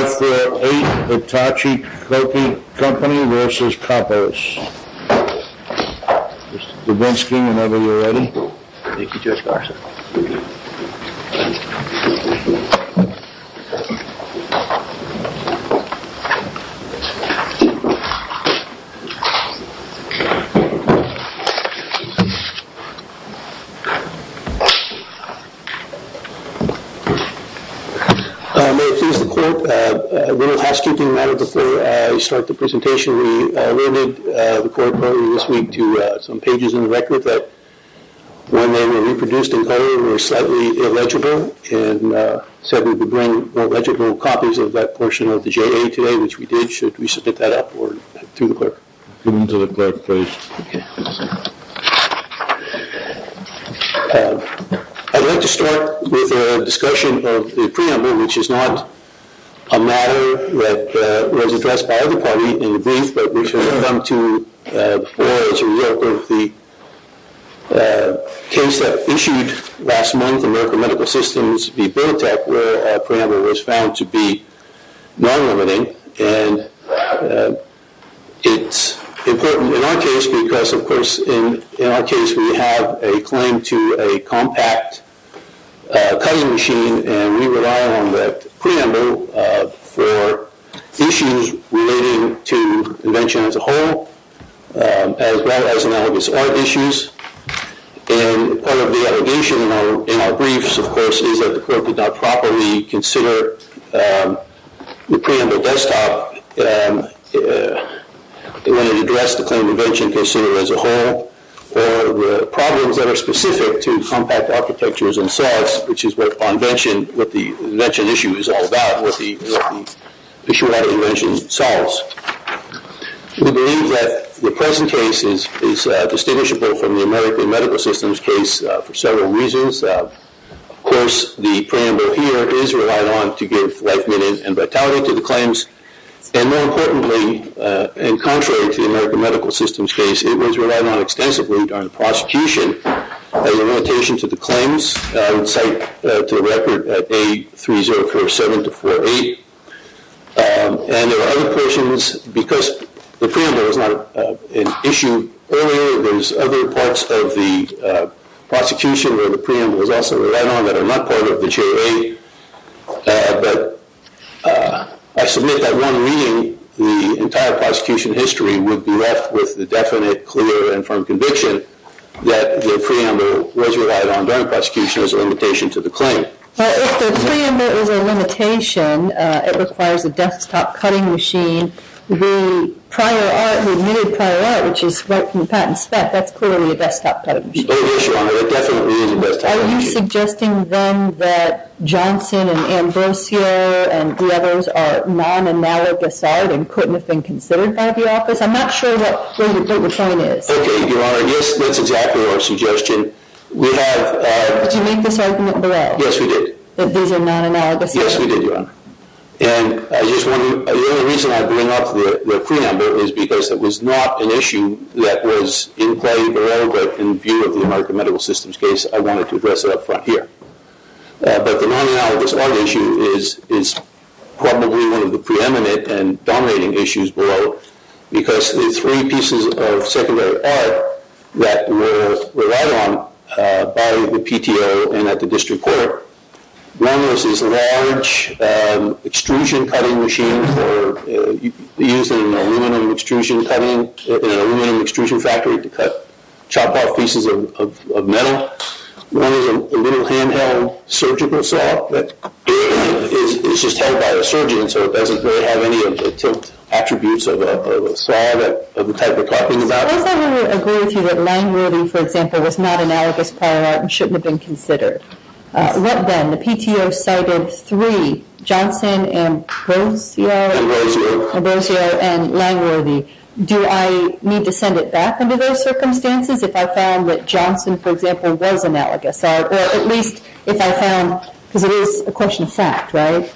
Mr. Dubinsky, whenever you're ready. Thank you, Judge Garza. May it please the Court, a little housekeeping matter before I start the presentation. I'd like to start with a discussion of the preamble, which is not a matter that was addressed by either party in the brief, but which has come to the floor as a result of the case that was issued last month, American Medical Systems v. Benetech, where a preamble was found to be non-limiting. And it's important in our case because, of course, in our case we have a claim to a compact cutting machine, and we rely on the preamble for issues relating to invention as a whole, as well as analogous art issues. And part of the allegation in our briefs, of course, is that the Court did not properly consider the preamble desktop when it addressed the claim to invention considered as a whole, or problems that are specific to compact architectures themselves, which is what the invention issue is all about, what the issue of invention solves. We believe that the present case is distinguishable from the American Medical Systems case for several reasons. Of course, the preamble here is relied on to give life, meaning and vitality to the claims. And more importantly, and contrary to the American Medical Systems case, it was relied on extensively during the prosecution as a limitation to the claims. I would cite to the record A3047-48. And there were other questions because the preamble was not an issue earlier. There was other parts of the prosecution where the preamble was also relied on that are not part of the JA. But I submit that one reading the entire prosecution history would be left with the definite, clear, and firm conviction that the preamble was relied on during prosecution as a limitation to the claim. But if the preamble is a limitation, it requires a desktop cutting machine. The prior art, the admitted prior art, which is right from the patent spec, that's clearly a desktop cutting machine. It definitely is a desktop cutting machine. Are you suggesting then that Johnson and Ambrosio and the others are non-analogous art and couldn't have been considered by the office? I'm not sure that the point is. Okay, Your Honor. Yes, that's exactly our suggestion. We have... Did you make this argument in Borel? Yes, we did. That these are non-analogous? Yes, we did, Your Honor. And I just want to... The only reason I bring up the preamble is because it was not an issue that was in play in Borel, but in view of the American Medical Systems case, I wanted to address it up front here. But the non-analogous art issue is probably one of the preeminent and dominating issues below because the three pieces of secondary art that were relied on by the PTO and at the district court. One was this large extrusion cutting machine for using aluminum extrusion cutting, an aluminum cutting machine for chopping off pieces of metal. One is a little handheld surgical saw that is just held by a surgeon, so it doesn't really have any of the tilt attributes of a saw that the type we're talking about. Does everyone agree with you that line wording, for example, was not analogous prior art and shouldn't have been considered? What then? The PTO cited three, Johnson, Ambrosio... Ambrosio. Ambrosio and line wording. Do I need to send it back under those circumstances if I found that Johnson, for example, was analogous art? Or at least if I found, because it is a question of fact, right?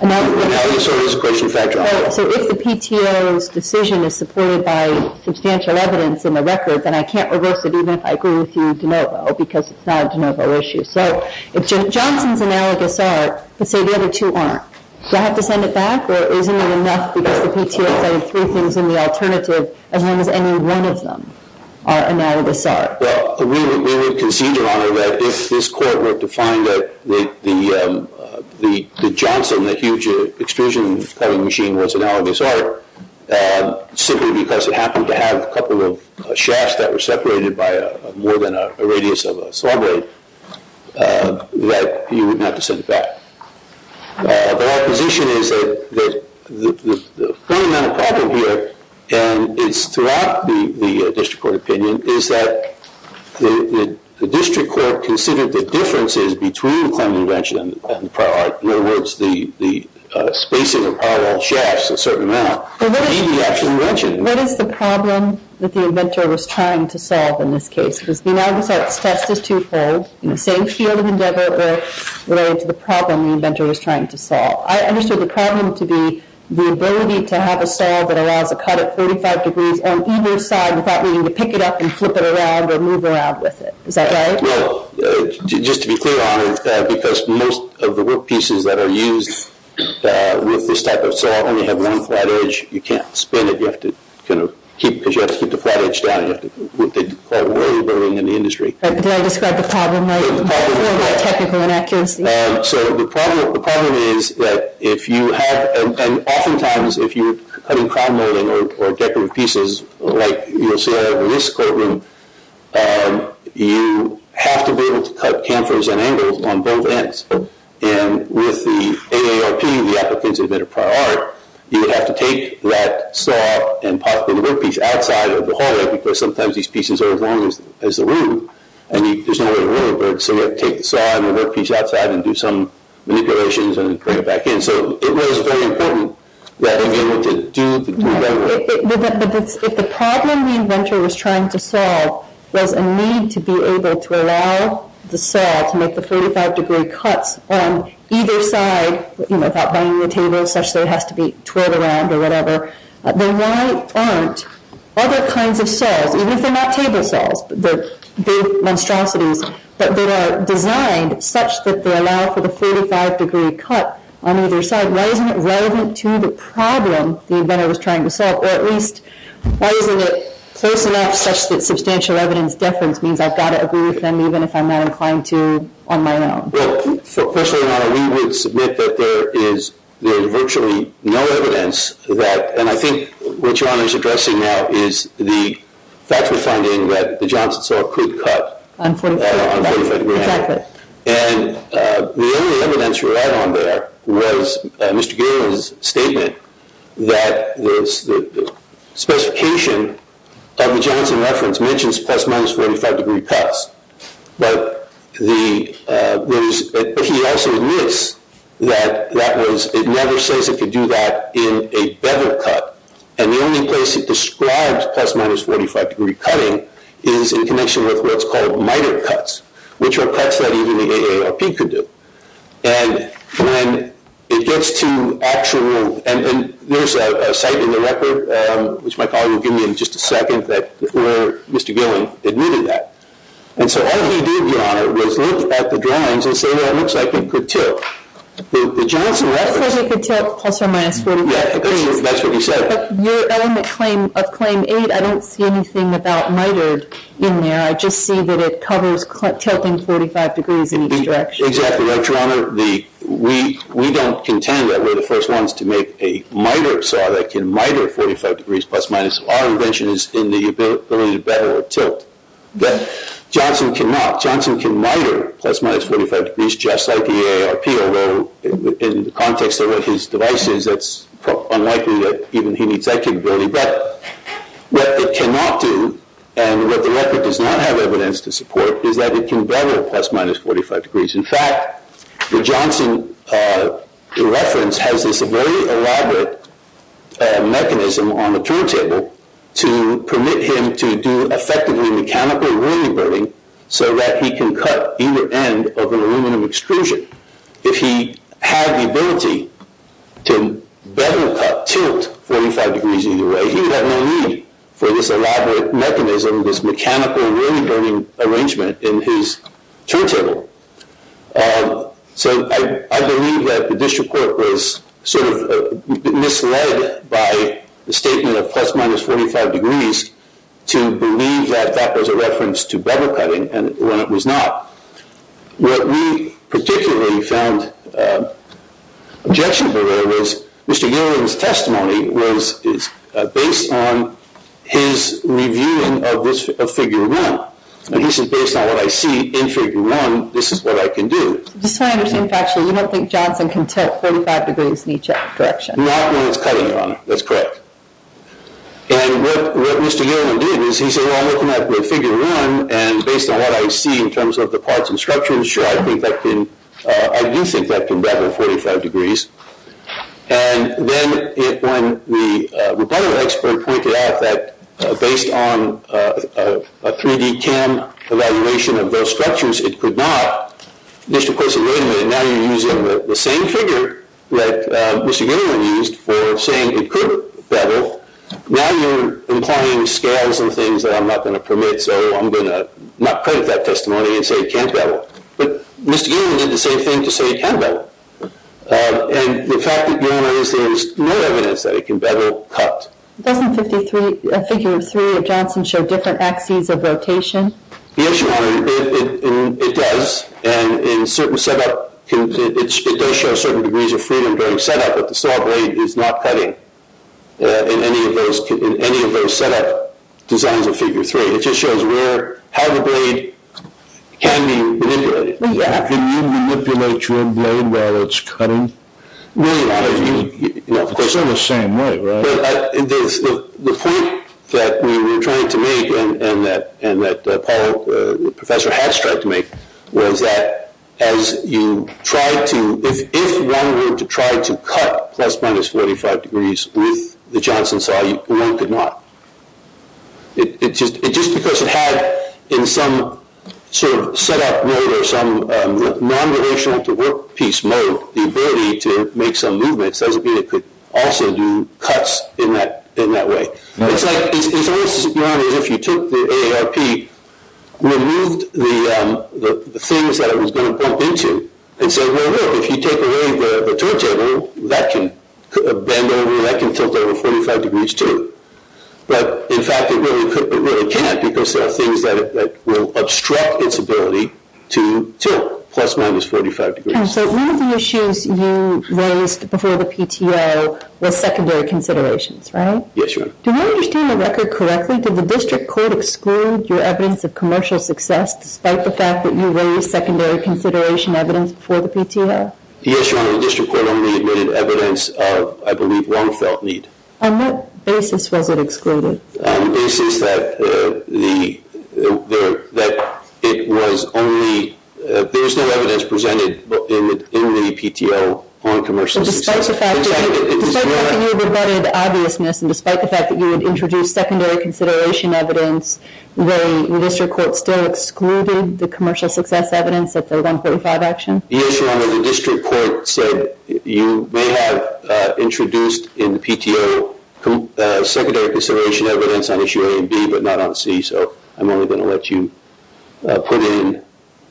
Analogous or it is a question of fact? So if the PTO's decision is supported by substantial evidence in the record, then I can't reverse it even if I agree with you de novo because it's not a de novo issue. So if Johnson's analogous art, but say the other two aren't, do I have to send it back or isn't that enough because the PTO cited three things in the alternative as long as any one of them are analogous art? Well, we would concede, Your Honor, that if this Court were to find that the Johnson, that huge extrusion cutting machine, was analogous art, simply because it happened to have a couple of shafts that were separated by more than a radius of a saw blade, that you would not have to send it back. But our position is that the fundamental problem here, and it's throughout the district court opinion, is that the district court considered the differences between the Clement invention and the parallel art. In other words, the spacing of parallel shafts a certain amount. But what is the problem that the inventor was trying to solve in this case? Because the analogous art test is twofold in the same field of endeavor related to the problem the inventor was trying to solve. I understood the problem to be the ability to have a saw that allows a cut at 35 degrees on either side without needing to pick it up and flip it around or move around with it. Is that right? Well, just to be clear, Your Honor, because most of the workpieces that are used with this type of saw only have one flat edge. You can't spin it. Because you have to keep the flat edge down. You have to do what they call worry building in the industry. Did I describe the problem right? I feel like technical inaccuracy. So the problem is that if you have, and oftentimes if you're cutting crown molding or decorative pieces, like you'll see in this courtroom, you have to be able to cut canfers and angles on both ends. And with the AARP, the applicants that invented prior art, you would have to take that saw and pop it in the workpiece outside of the hallway because sometimes these pieces are as long as the room. And there's no way to move it. So you have to take the saw and the workpiece outside and do some manipulations and bring it back in. So it was very important that we were able to do that. But if the problem the inventor was trying to solve was a need to be able to allow the 45-degree cuts on either side without banging the table such that it has to be twirled around or whatever, then why aren't other kinds of saws, even if they're not table saws, big monstrosities, that are designed such that they allow for the 45-degree cut on either side? Why isn't it relevant to the problem the inventor was trying to solve? Or at least why isn't it close enough such that substantial evidence deference means I've got to agree with them even if I'm not inclined to on my own? Well, personally, Your Honor, we would submit that there is virtually no evidence that, and I think what Your Honor is addressing now is the factual finding that the Johnson saw could cut on a 45-degree angle. Exactly. And the only evidence we had on there was Mr. Gale's statement that the specification of the Johnson reference mentions plus-minus 45-degree cuts. But he also admits that it never says it could do that in a bevel cut, and the only place it describes plus-minus 45-degree cutting is in connection with what's called miter cuts, which are cuts that even the AARP could do. And when it gets to actual – and there's a site in the record, which my colleague will give me in just a second, where Mr. Gale admitted that. And so all he did, Your Honor, was look at the drawings and say, well, it looks like it could tip. The Johnson reference – He said it could tip plus or minus 45 degrees. Yeah, that's what he said. But your element of Claim 8, I don't see anything about mitered in there. I just see that it covers tilting 45 degrees in each direction. Exactly. Right, Your Honor? We don't contend that we're the first ones to make a miter saw that can miter 45 degrees plus-minus. Our invention is in the ability to bevel or tilt. Johnson cannot. Johnson can miter plus-minus 45 degrees just like the AARP, although in the context of what his device is, it's unlikely that even he needs that capability. But what it cannot do, and what the record does not have evidence to support, is that it can bevel plus-minus 45 degrees. In fact, the Johnson reference has this very elaborate mechanism on the turntable to permit him to do effectively mechanical ruining burning so that he can cut either end of an aluminum extrusion. If he had the ability to bevel cut, tilt 45 degrees either way, he would have no need for this elaborate mechanism, this mechanical ruining burning arrangement in his turntable. So I believe that the district court was sort of misled by the statement of plus-minus 45 degrees to believe that that was a reference to bevel cutting when it was not. What we particularly found objectionable there was Mr. Yolen's testimony was based on his reviewing of Figure 1. He said, based on what I see in Figure 1, this is what I can do. I just want to understand factually, you don't think Johnson can tilt 45 degrees in each direction? Not when it's cutting, Your Honor. That's correct. And what Mr. Yolen did is he said, well, I'm looking at Figure 1, and based on what I see in terms of the parts and structures, sure, I do think that can bevel 45 degrees. And then when the bevel expert pointed out that based on a 3D cam evaluation of those structures, it could not, the district court said, wait a minute, now you're using the same figure that Mr. Yolen used for saying it could bevel. Now you're implying scales and things that I'm not going to permit, so I'm going to not permit that testimony and say it can't bevel. But Mr. Yolen did the same thing to say it can bevel. And the fact that, Your Honor, is there is no evidence that it can bevel cut. Doesn't Figure 3 of Johnson show different axes of rotation? Yes, Your Honor, it does. And in certain set-up, it does show certain degrees of freedom during set-up, but the saw blade is not cutting in any of those set-up designs of Figure 3. It just shows how the blade can be manipulated. Exactly. Can you manipulate your blade while it's cutting? No, Your Honor. It's in the same way, right? The point that we were trying to make and that Professor Hatch tried to make was that as you try to, if one were to try to cut plus minus 45 degrees with the Johnson saw, one could not. Just because it had in some sort of set-up mode or some non-relational to workpiece mode the ability to make some movements doesn't mean it could also do cuts in that way. It's almost as if you took the AARP, removed the things that it was going to bump into and said, well, look, if you take away the turntable, that can bend over, that can tilt over 45 degrees too. But, in fact, it really can't because there are things that will obstruct its ability to tilt plus minus 45 degrees. And so one of the issues you raised before the PTO was secondary considerations, right? Yes, Your Honor. Do you understand the record correctly? Did the district court exclude your evidence of commercial success despite the fact that you raised secondary consideration evidence before the PTO? Yes, Your Honor. The district court only admitted evidence of, I believe, one felt need. On what basis was it excluded? On the basis that it was only, there was no evidence presented in the PTO on commercial success. So despite the fact that you had rebutted obviousness and despite the fact that you had introduced secondary consideration evidence, the district court still excluded the commercial success evidence at the 1.5 action? Yes, Your Honor. The district court said you may have introduced in the PTO secondary consideration evidence on issue A and B but not on C, so I'm only going to let you put in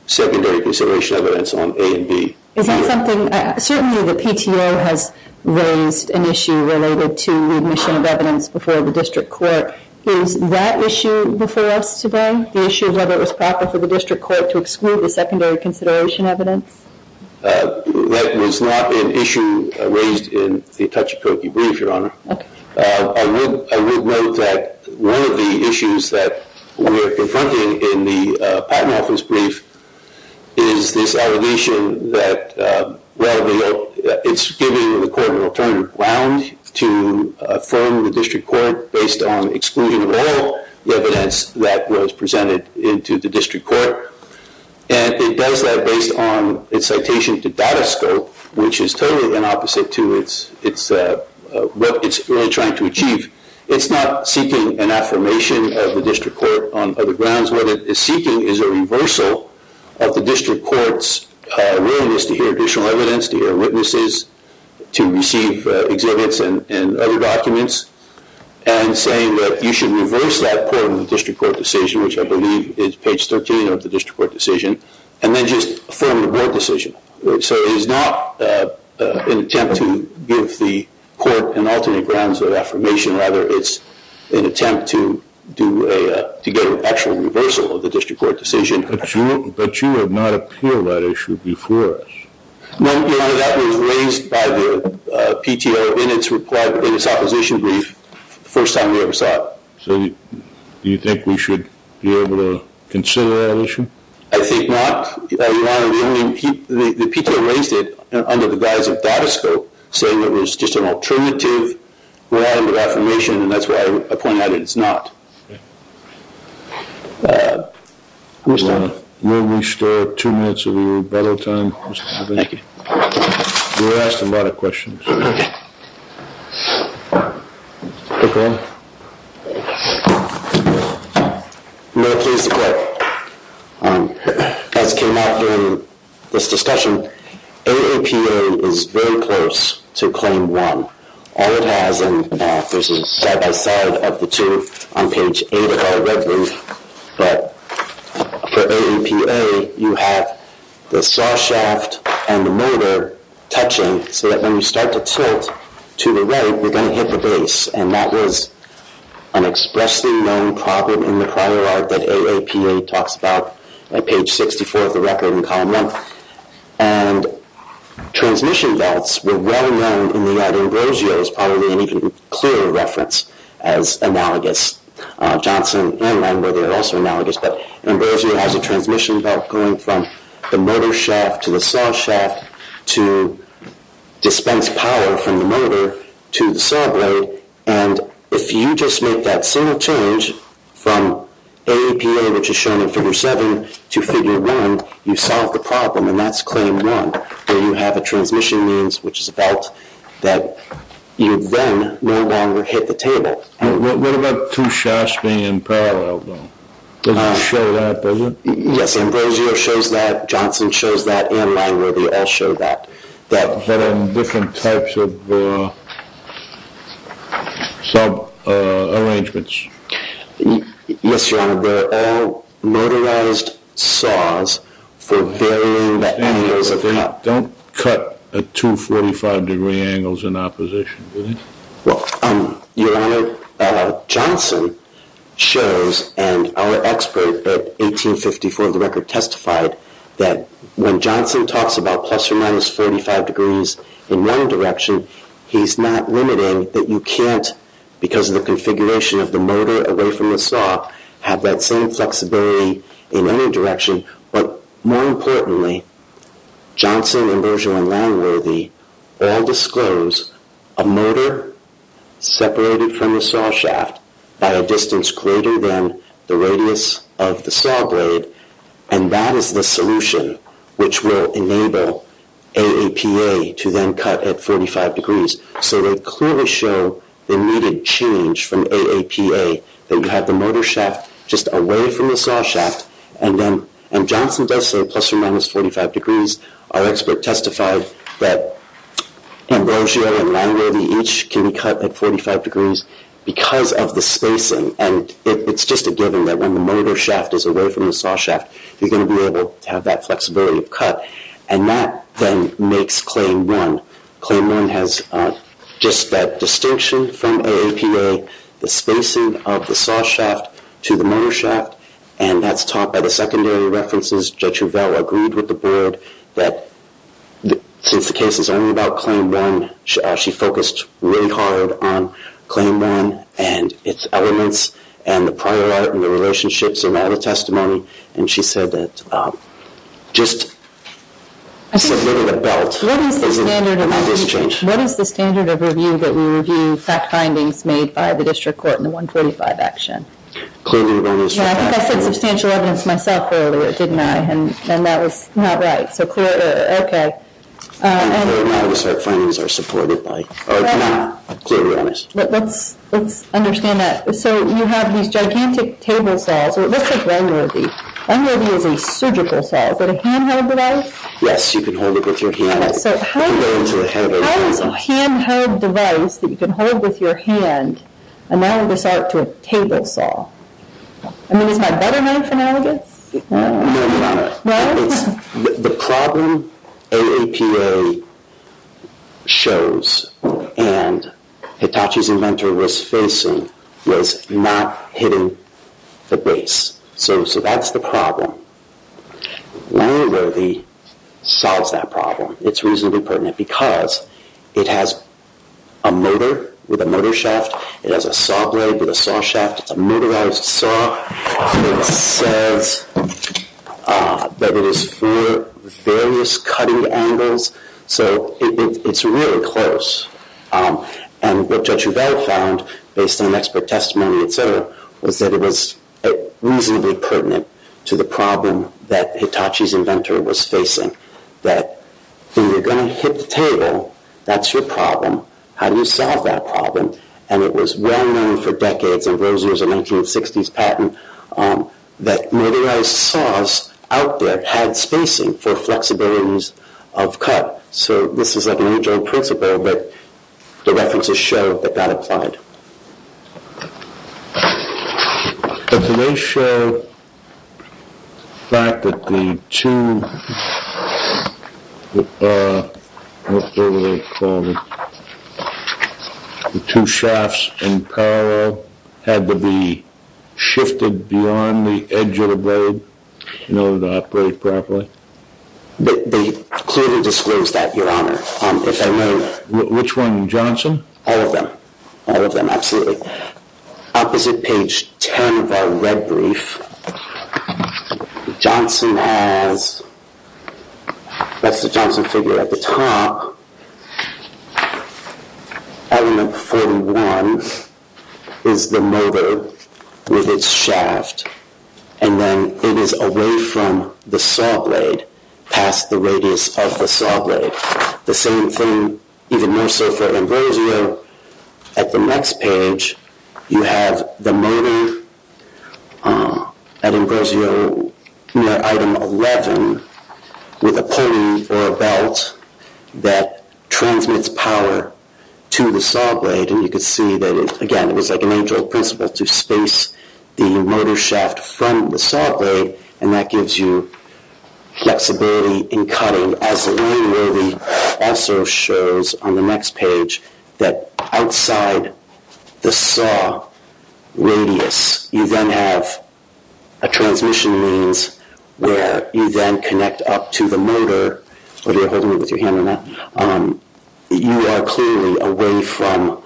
secondary consideration evidence on A and B. Is that something, certainly the PTO has raised an issue related to admission of evidence before the district court. Is that issue before us today, the issue of whether it was proper for the district court to exclude the secondary consideration evidence? That was not an issue raised in the Tachikoke brief, Your Honor. Okay. I would note that one of the issues that we are confronting in the Patent Office brief is this allegation that, well, it's giving the court an alternative ground to affirm the district court based on exclusion of all the evidence that was presented into the district court, and it does that based on its citation to Datascope, which is totally the opposite to what it's really trying to achieve. It's not seeking an affirmation of the district court on other grounds. What it is seeking is a reversal of the district court's willingness to hear additional evidence, to hear witnesses, to receive exhibits and other documents, and saying that you should affirm the decision. So it is not an attempt to give the court an alternate grounds of affirmation. Rather, it's an attempt to get an actual reversal of the district court decision. But you have not appealed that issue before us. No, Your Honor. That was raised by the PTO in its opposition brief the first time we ever saw it. So do you think we should be able to consider that issue? I think not. Your Honor, the PTO raised it under the guise of Datascope, saying it was just an alternative ground of affirmation, and that's why I point out that it's not. Will we start two minutes of rebuttal time? Thank you. We were asked a lot of questions. Okay. Thank you, Your Honor. No, please, the court. As came out during this discussion, AAPA is very close to claim one. All it has, and there's a side-by-side of the two on page 8 of our red brief, but for AAPA, you have the saw shaft and the motor touching so that when you start to tilt to the right, you're going to hit the base, and that is an expressly known problem in the prior art that AAPA talks about on page 64 of the record in column 1. And transmission belts were well-known in the art. Ambrosio is probably an even clearer reference as analogous. Johnson and Langworthy are also analogous, but Ambrosio has a transmission belt going from the motor shaft to the saw shaft to dispense power from the motor to the saw blade, and if you just make that single change from AAPA, which is shown in figure 7, to figure 1, you solve the problem, and that's claim one, where you have a transmission means, which is a belt that you then no longer hit the table. What about two shafts being in parallel, though? Does it show that, does it? Yes, Ambrosio shows that, Johnson shows that, and Langworthy all show that. But on different types of sub-arrangements? Yes, Your Honor, they're all motorized saws for varying the angles of cut. But they don't cut at 245-degree angles in opposition, do they? Well, Your Honor, Johnson shows, and our expert at 1854 of the record testified, that when Johnson talks about plus or minus 45 degrees in one direction, he's not limiting that you can't, because of the configuration of the motor away from the saw, have that same flexibility in any direction, but more importantly, Johnson, Ambrosio, and Langworthy all disclose a motor separated from the saw shaft by a distance greater than the radius of the saw blade, and that is the solution which will enable AAPA to then cut at 45 degrees. So they clearly show the needed change from AAPA, that you have the motor shaft just away from the saw shaft, and Johnson does say plus or minus 45 degrees. Our expert testified that Ambrosio and Langworthy each can be cut at 45 degrees because of the spacing, and it's just a given that when the motor shaft is away from the saw shaft, you're going to be able to have that flexibility of cut, and that then makes Claim 1. Claim 1 has just that distinction from AAPA, the spacing of the saw shaft to the motor shaft, and that's taught by the secondary references. Judge Rivell agreed with the board that since the case is only about Claim 1, she actually focused really hard on Claim 1 and its elements, and the prior art and the relationships in that testimony, and she said that just submitting a belt isn't going to change. What is the standard of review that we review fact findings made by the district court in the 145 action? Yeah, I think I said substantial evidence myself earlier, didn't I? And that was not right, so clear, okay. Let's understand that. So you have these gigantic table saws. Let's take Langworthy. Langworthy is a surgical saw. Is it a handheld device? Yes, you can hold it with your hand. How is a handheld device that you can hold with your hand analogous to a table saw? I mean, is my better known for analogous? No, you're not. The problem AAPA shows and Hitachi's inventor was facing was not hitting the base, so that's the problem. Langworthy solves that problem. It's reasonably pertinent because it has a motor with a motor shaft. It has a saw blade with a saw shaft. It's a motorized saw. It says that it is for various cutting angles, so it's really close, and what Judge Rivera found based on expert testimony, et cetera, was that it was reasonably pertinent to the problem that Hitachi's inventor was facing, that when you're going to hit the table, that's your problem. How do you solve that problem? And it was well-known for decades, in those years of 1960s patent, that motorized saws out there had spacing for flexibilities of cut, so this is like a new joint principle, but the references show that that applied. Did they show the fact that the two, what were they called, the two shafts in parallel had to be shifted beyond the edge of the blade in order to operate properly? They clearly disclosed that, Your Honor, if I may. Which one, Johnson? All of them. All of them, absolutely. Opposite page 10 of our red brief, Johnson has, that's the Johnson figure at the top, element 41 is the motor with its shaft, and then it is away from the saw blade, past the radius of the saw blade. The same thing, even more so for Ambrosio, at the next page, you have the motor at Ambrosio item 11 with a pulley or a belt that transmits power to the saw blade, and you can see that, again, it was like a new joint principle to space the motor shaft from the saw blade, and that gives you flexibility in cutting, And as Lee Rovey also shows on the next page, that outside the saw radius, you then have a transmission means where you then connect up to the motor. Are you holding it with your hand or not? You are clearly away from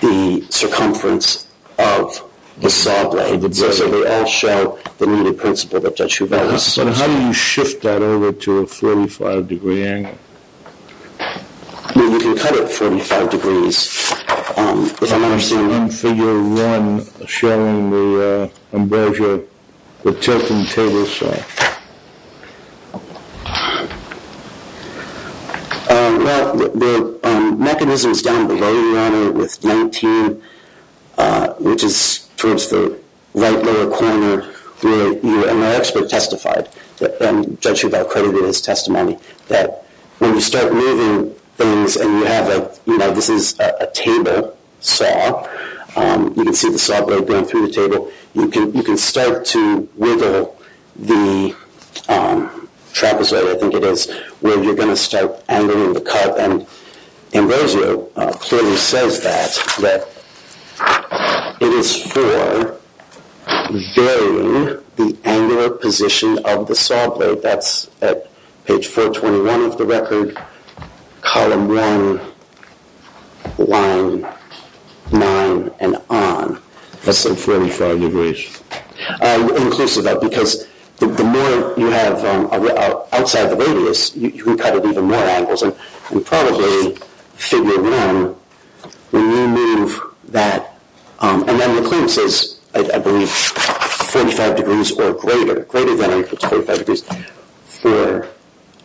the circumference of the saw blade. So they all show the needed principle that Judge Hubert has. And how do you shift that over to a 45 degree angle? You can cut it 45 degrees, if I'm understanding. Figure 1 showing the Ambrosio, the tilting table saw. Well, the mechanism is down below you, Your Honor, with 19, which is towards the right lower corner where you, and our expert testified, Judge Hubert credited his testimony, that when you start moving things, and you have a, you know, this is a table saw. You can see the saw blade going through the table. You can start to wiggle the trapezoid, I think it is, where you're going to start angling the cut. And Ambrosio clearly says that it is for varying the angular position of the saw blade. That's at page 421 of the record, column 1, line 9, and on. That's at 45 degrees. Inclusive of, because the more you have outside the radius, you can cut at even more angles. And probably figure 1, when you move that, and then the claim says, I believe, 45 degrees or greater, greater than or equal to 45 degrees. For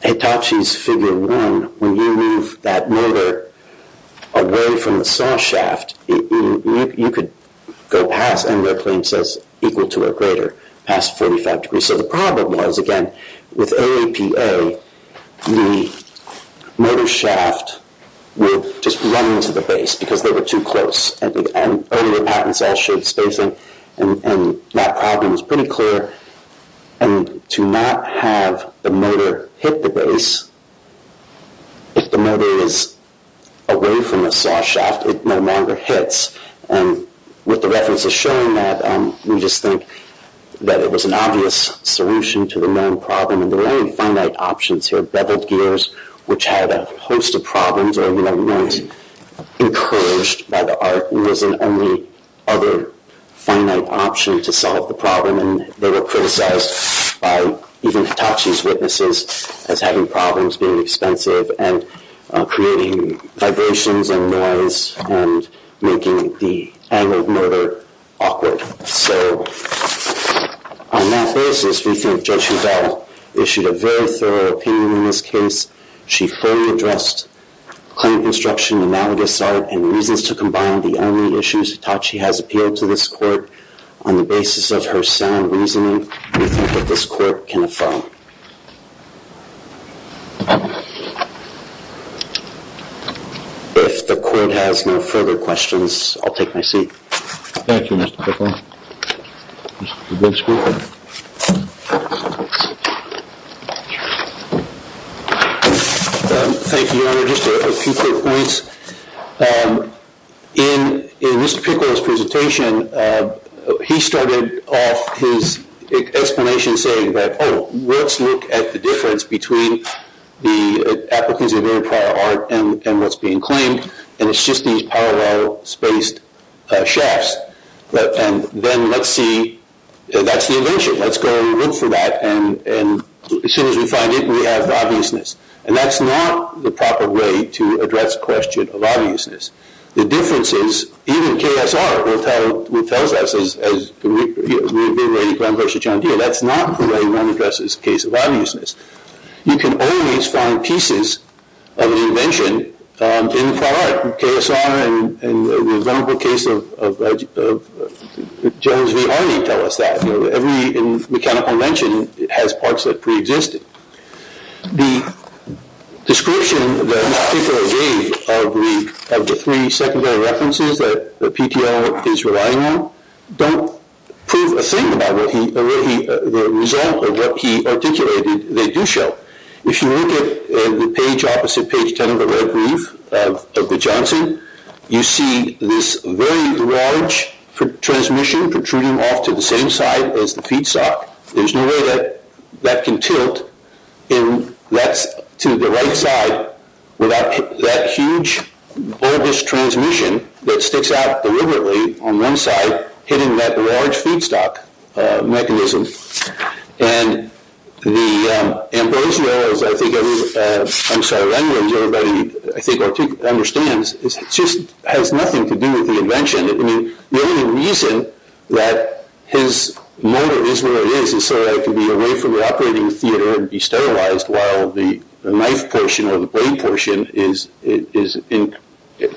Hitachi's figure 1, when you move that motor away from the saw shaft, you could go past, and their claim says equal to or greater, past 45 degrees. So the problem was, again, with OAPA, the motor shaft would just run into the base because they were too close, and earlier patents all showed spacing, and that problem is pretty clear. If the motor is away from the saw shaft, it no longer hits. And with the references showing that, we just think that it was an obvious solution to the known problem, and there were only finite options here. Beveled gears, which had a host of problems, or weren't encouraged by the art, was an only other finite option to solve the problem, and they were criticized by even Hitachi's witnesses as having problems being expensive and creating vibrations and noise and making the angle of motor awkward. So on that basis, we think Judge Bevel issued a very thorough opinion in this case. She fully addressed claim construction, analogous art, and reasons to combine the only issues Hitachi has appealed to this court on the basis of her sound reasoning, we think that this court can affirm. If the court has no further questions, I'll take my seat. Thank you, Mr. Pickle. Thank you, Your Honor. Just a few quick points. In Mr. Pickle's presentation, he started off his explanation saying that, oh, let's look at the difference between the applicants of very prior art and what's being claimed, and it's just these parallel spaced shafts. And then let's see, that's the invention. Let's go and look for that, and as soon as we find it, we have the obviousness. And that's not the proper way to address the question of obviousness. The difference is, even KSR will tell us, as we've been writing Graham v. John Deere, that's not the way one addresses the case of obviousness. You can always find pieces of an invention in the prior art. KSR and the wonderful case of Jones v. Harney tell us that. Every mechanical invention has parts that preexisted. The description that Mr. Pickle gave of the three secondary references that PTO is relying on don't prove a thing about the result of what he articulated they do show. If you look at the page opposite page 10 of the red brief of the Johnson, you see this very large transmission protruding off to the same side as the feedstock. There's no way that that can tilt to the right side without that huge, bulbous transmission that sticks out deliberately on one side, hitting that large feedstock mechanism. And the ambrosia, as I think everybody understands, just has nothing to do with the invention. The only reason that his motor is where it is is so that it can be away from the operating theater and be sterilized while the knife portion or the blade portion is in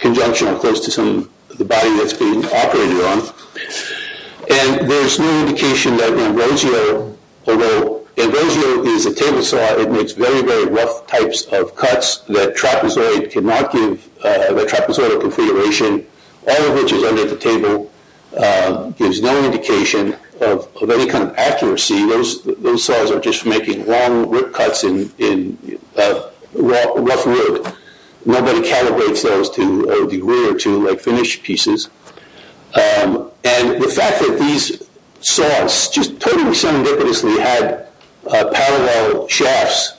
conjunction or close to the body that it's being operated on. And there's no indication that ambrosia, although ambrosia is a table saw, it makes very, very rough types of cuts that trapezoid cannot give the trapezoidal configuration, all of which is under the table, gives no indication of any kind of accuracy. Those saws are just making long rip cuts in rough wood. Nobody calibrates those to a degree or two like finished pieces. And the fact that these saws just totally serendipitously had parallel shafts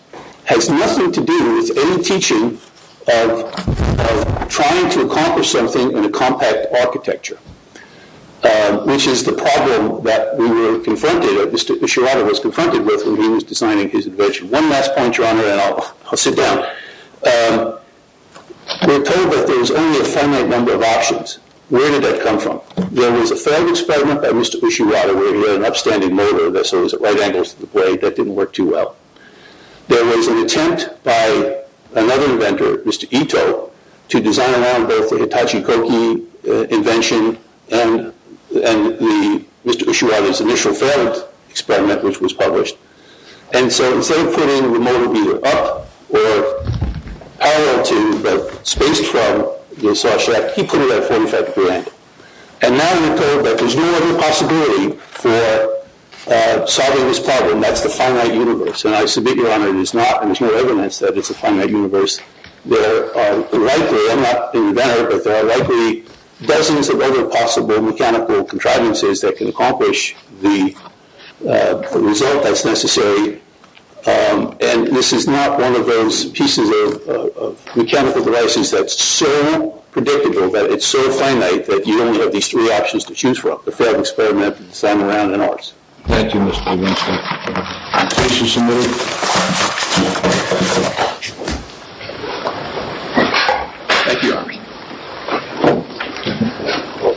has nothing to do with any teaching of trying to accomplish something in a compact architecture, which is the problem that we were confronted or Mr. Ushirata was confronted with when he was designing his invention. One last point, Your Honor, and I'll sit down. We were told that there was only a finite number of options. Where did that come from? There was a failed experiment by Mr. Ushirata where he had an upstanding motor that saws at right angles to the blade. That didn't work too well. There was an attempt by another inventor, Mr. Ito, to design along both the Hitachi Koki invention and Mr. Ushirata's initial failed experiment, which was published. And so instead of putting the motor either up or parallel to, but spaced from the saw shaft, he put it at a 45-degree angle. And now we're told that there's no other possibility for solving this problem. That's the finite universe. And I submit, Your Honor, there's no evidence that it's a finite universe. There are likely, I'm not the inventor, but there are likely dozens of other possible mechanical contrivances that can accomplish the result that's necessary. And this is not one of those pieces of mechanical devices that's so predictable, that it's so finite that you only have these three options to choose from, the failed experiment, the design around, and ours. Thank you, Mr. Winstead. Thank you, Your Honor.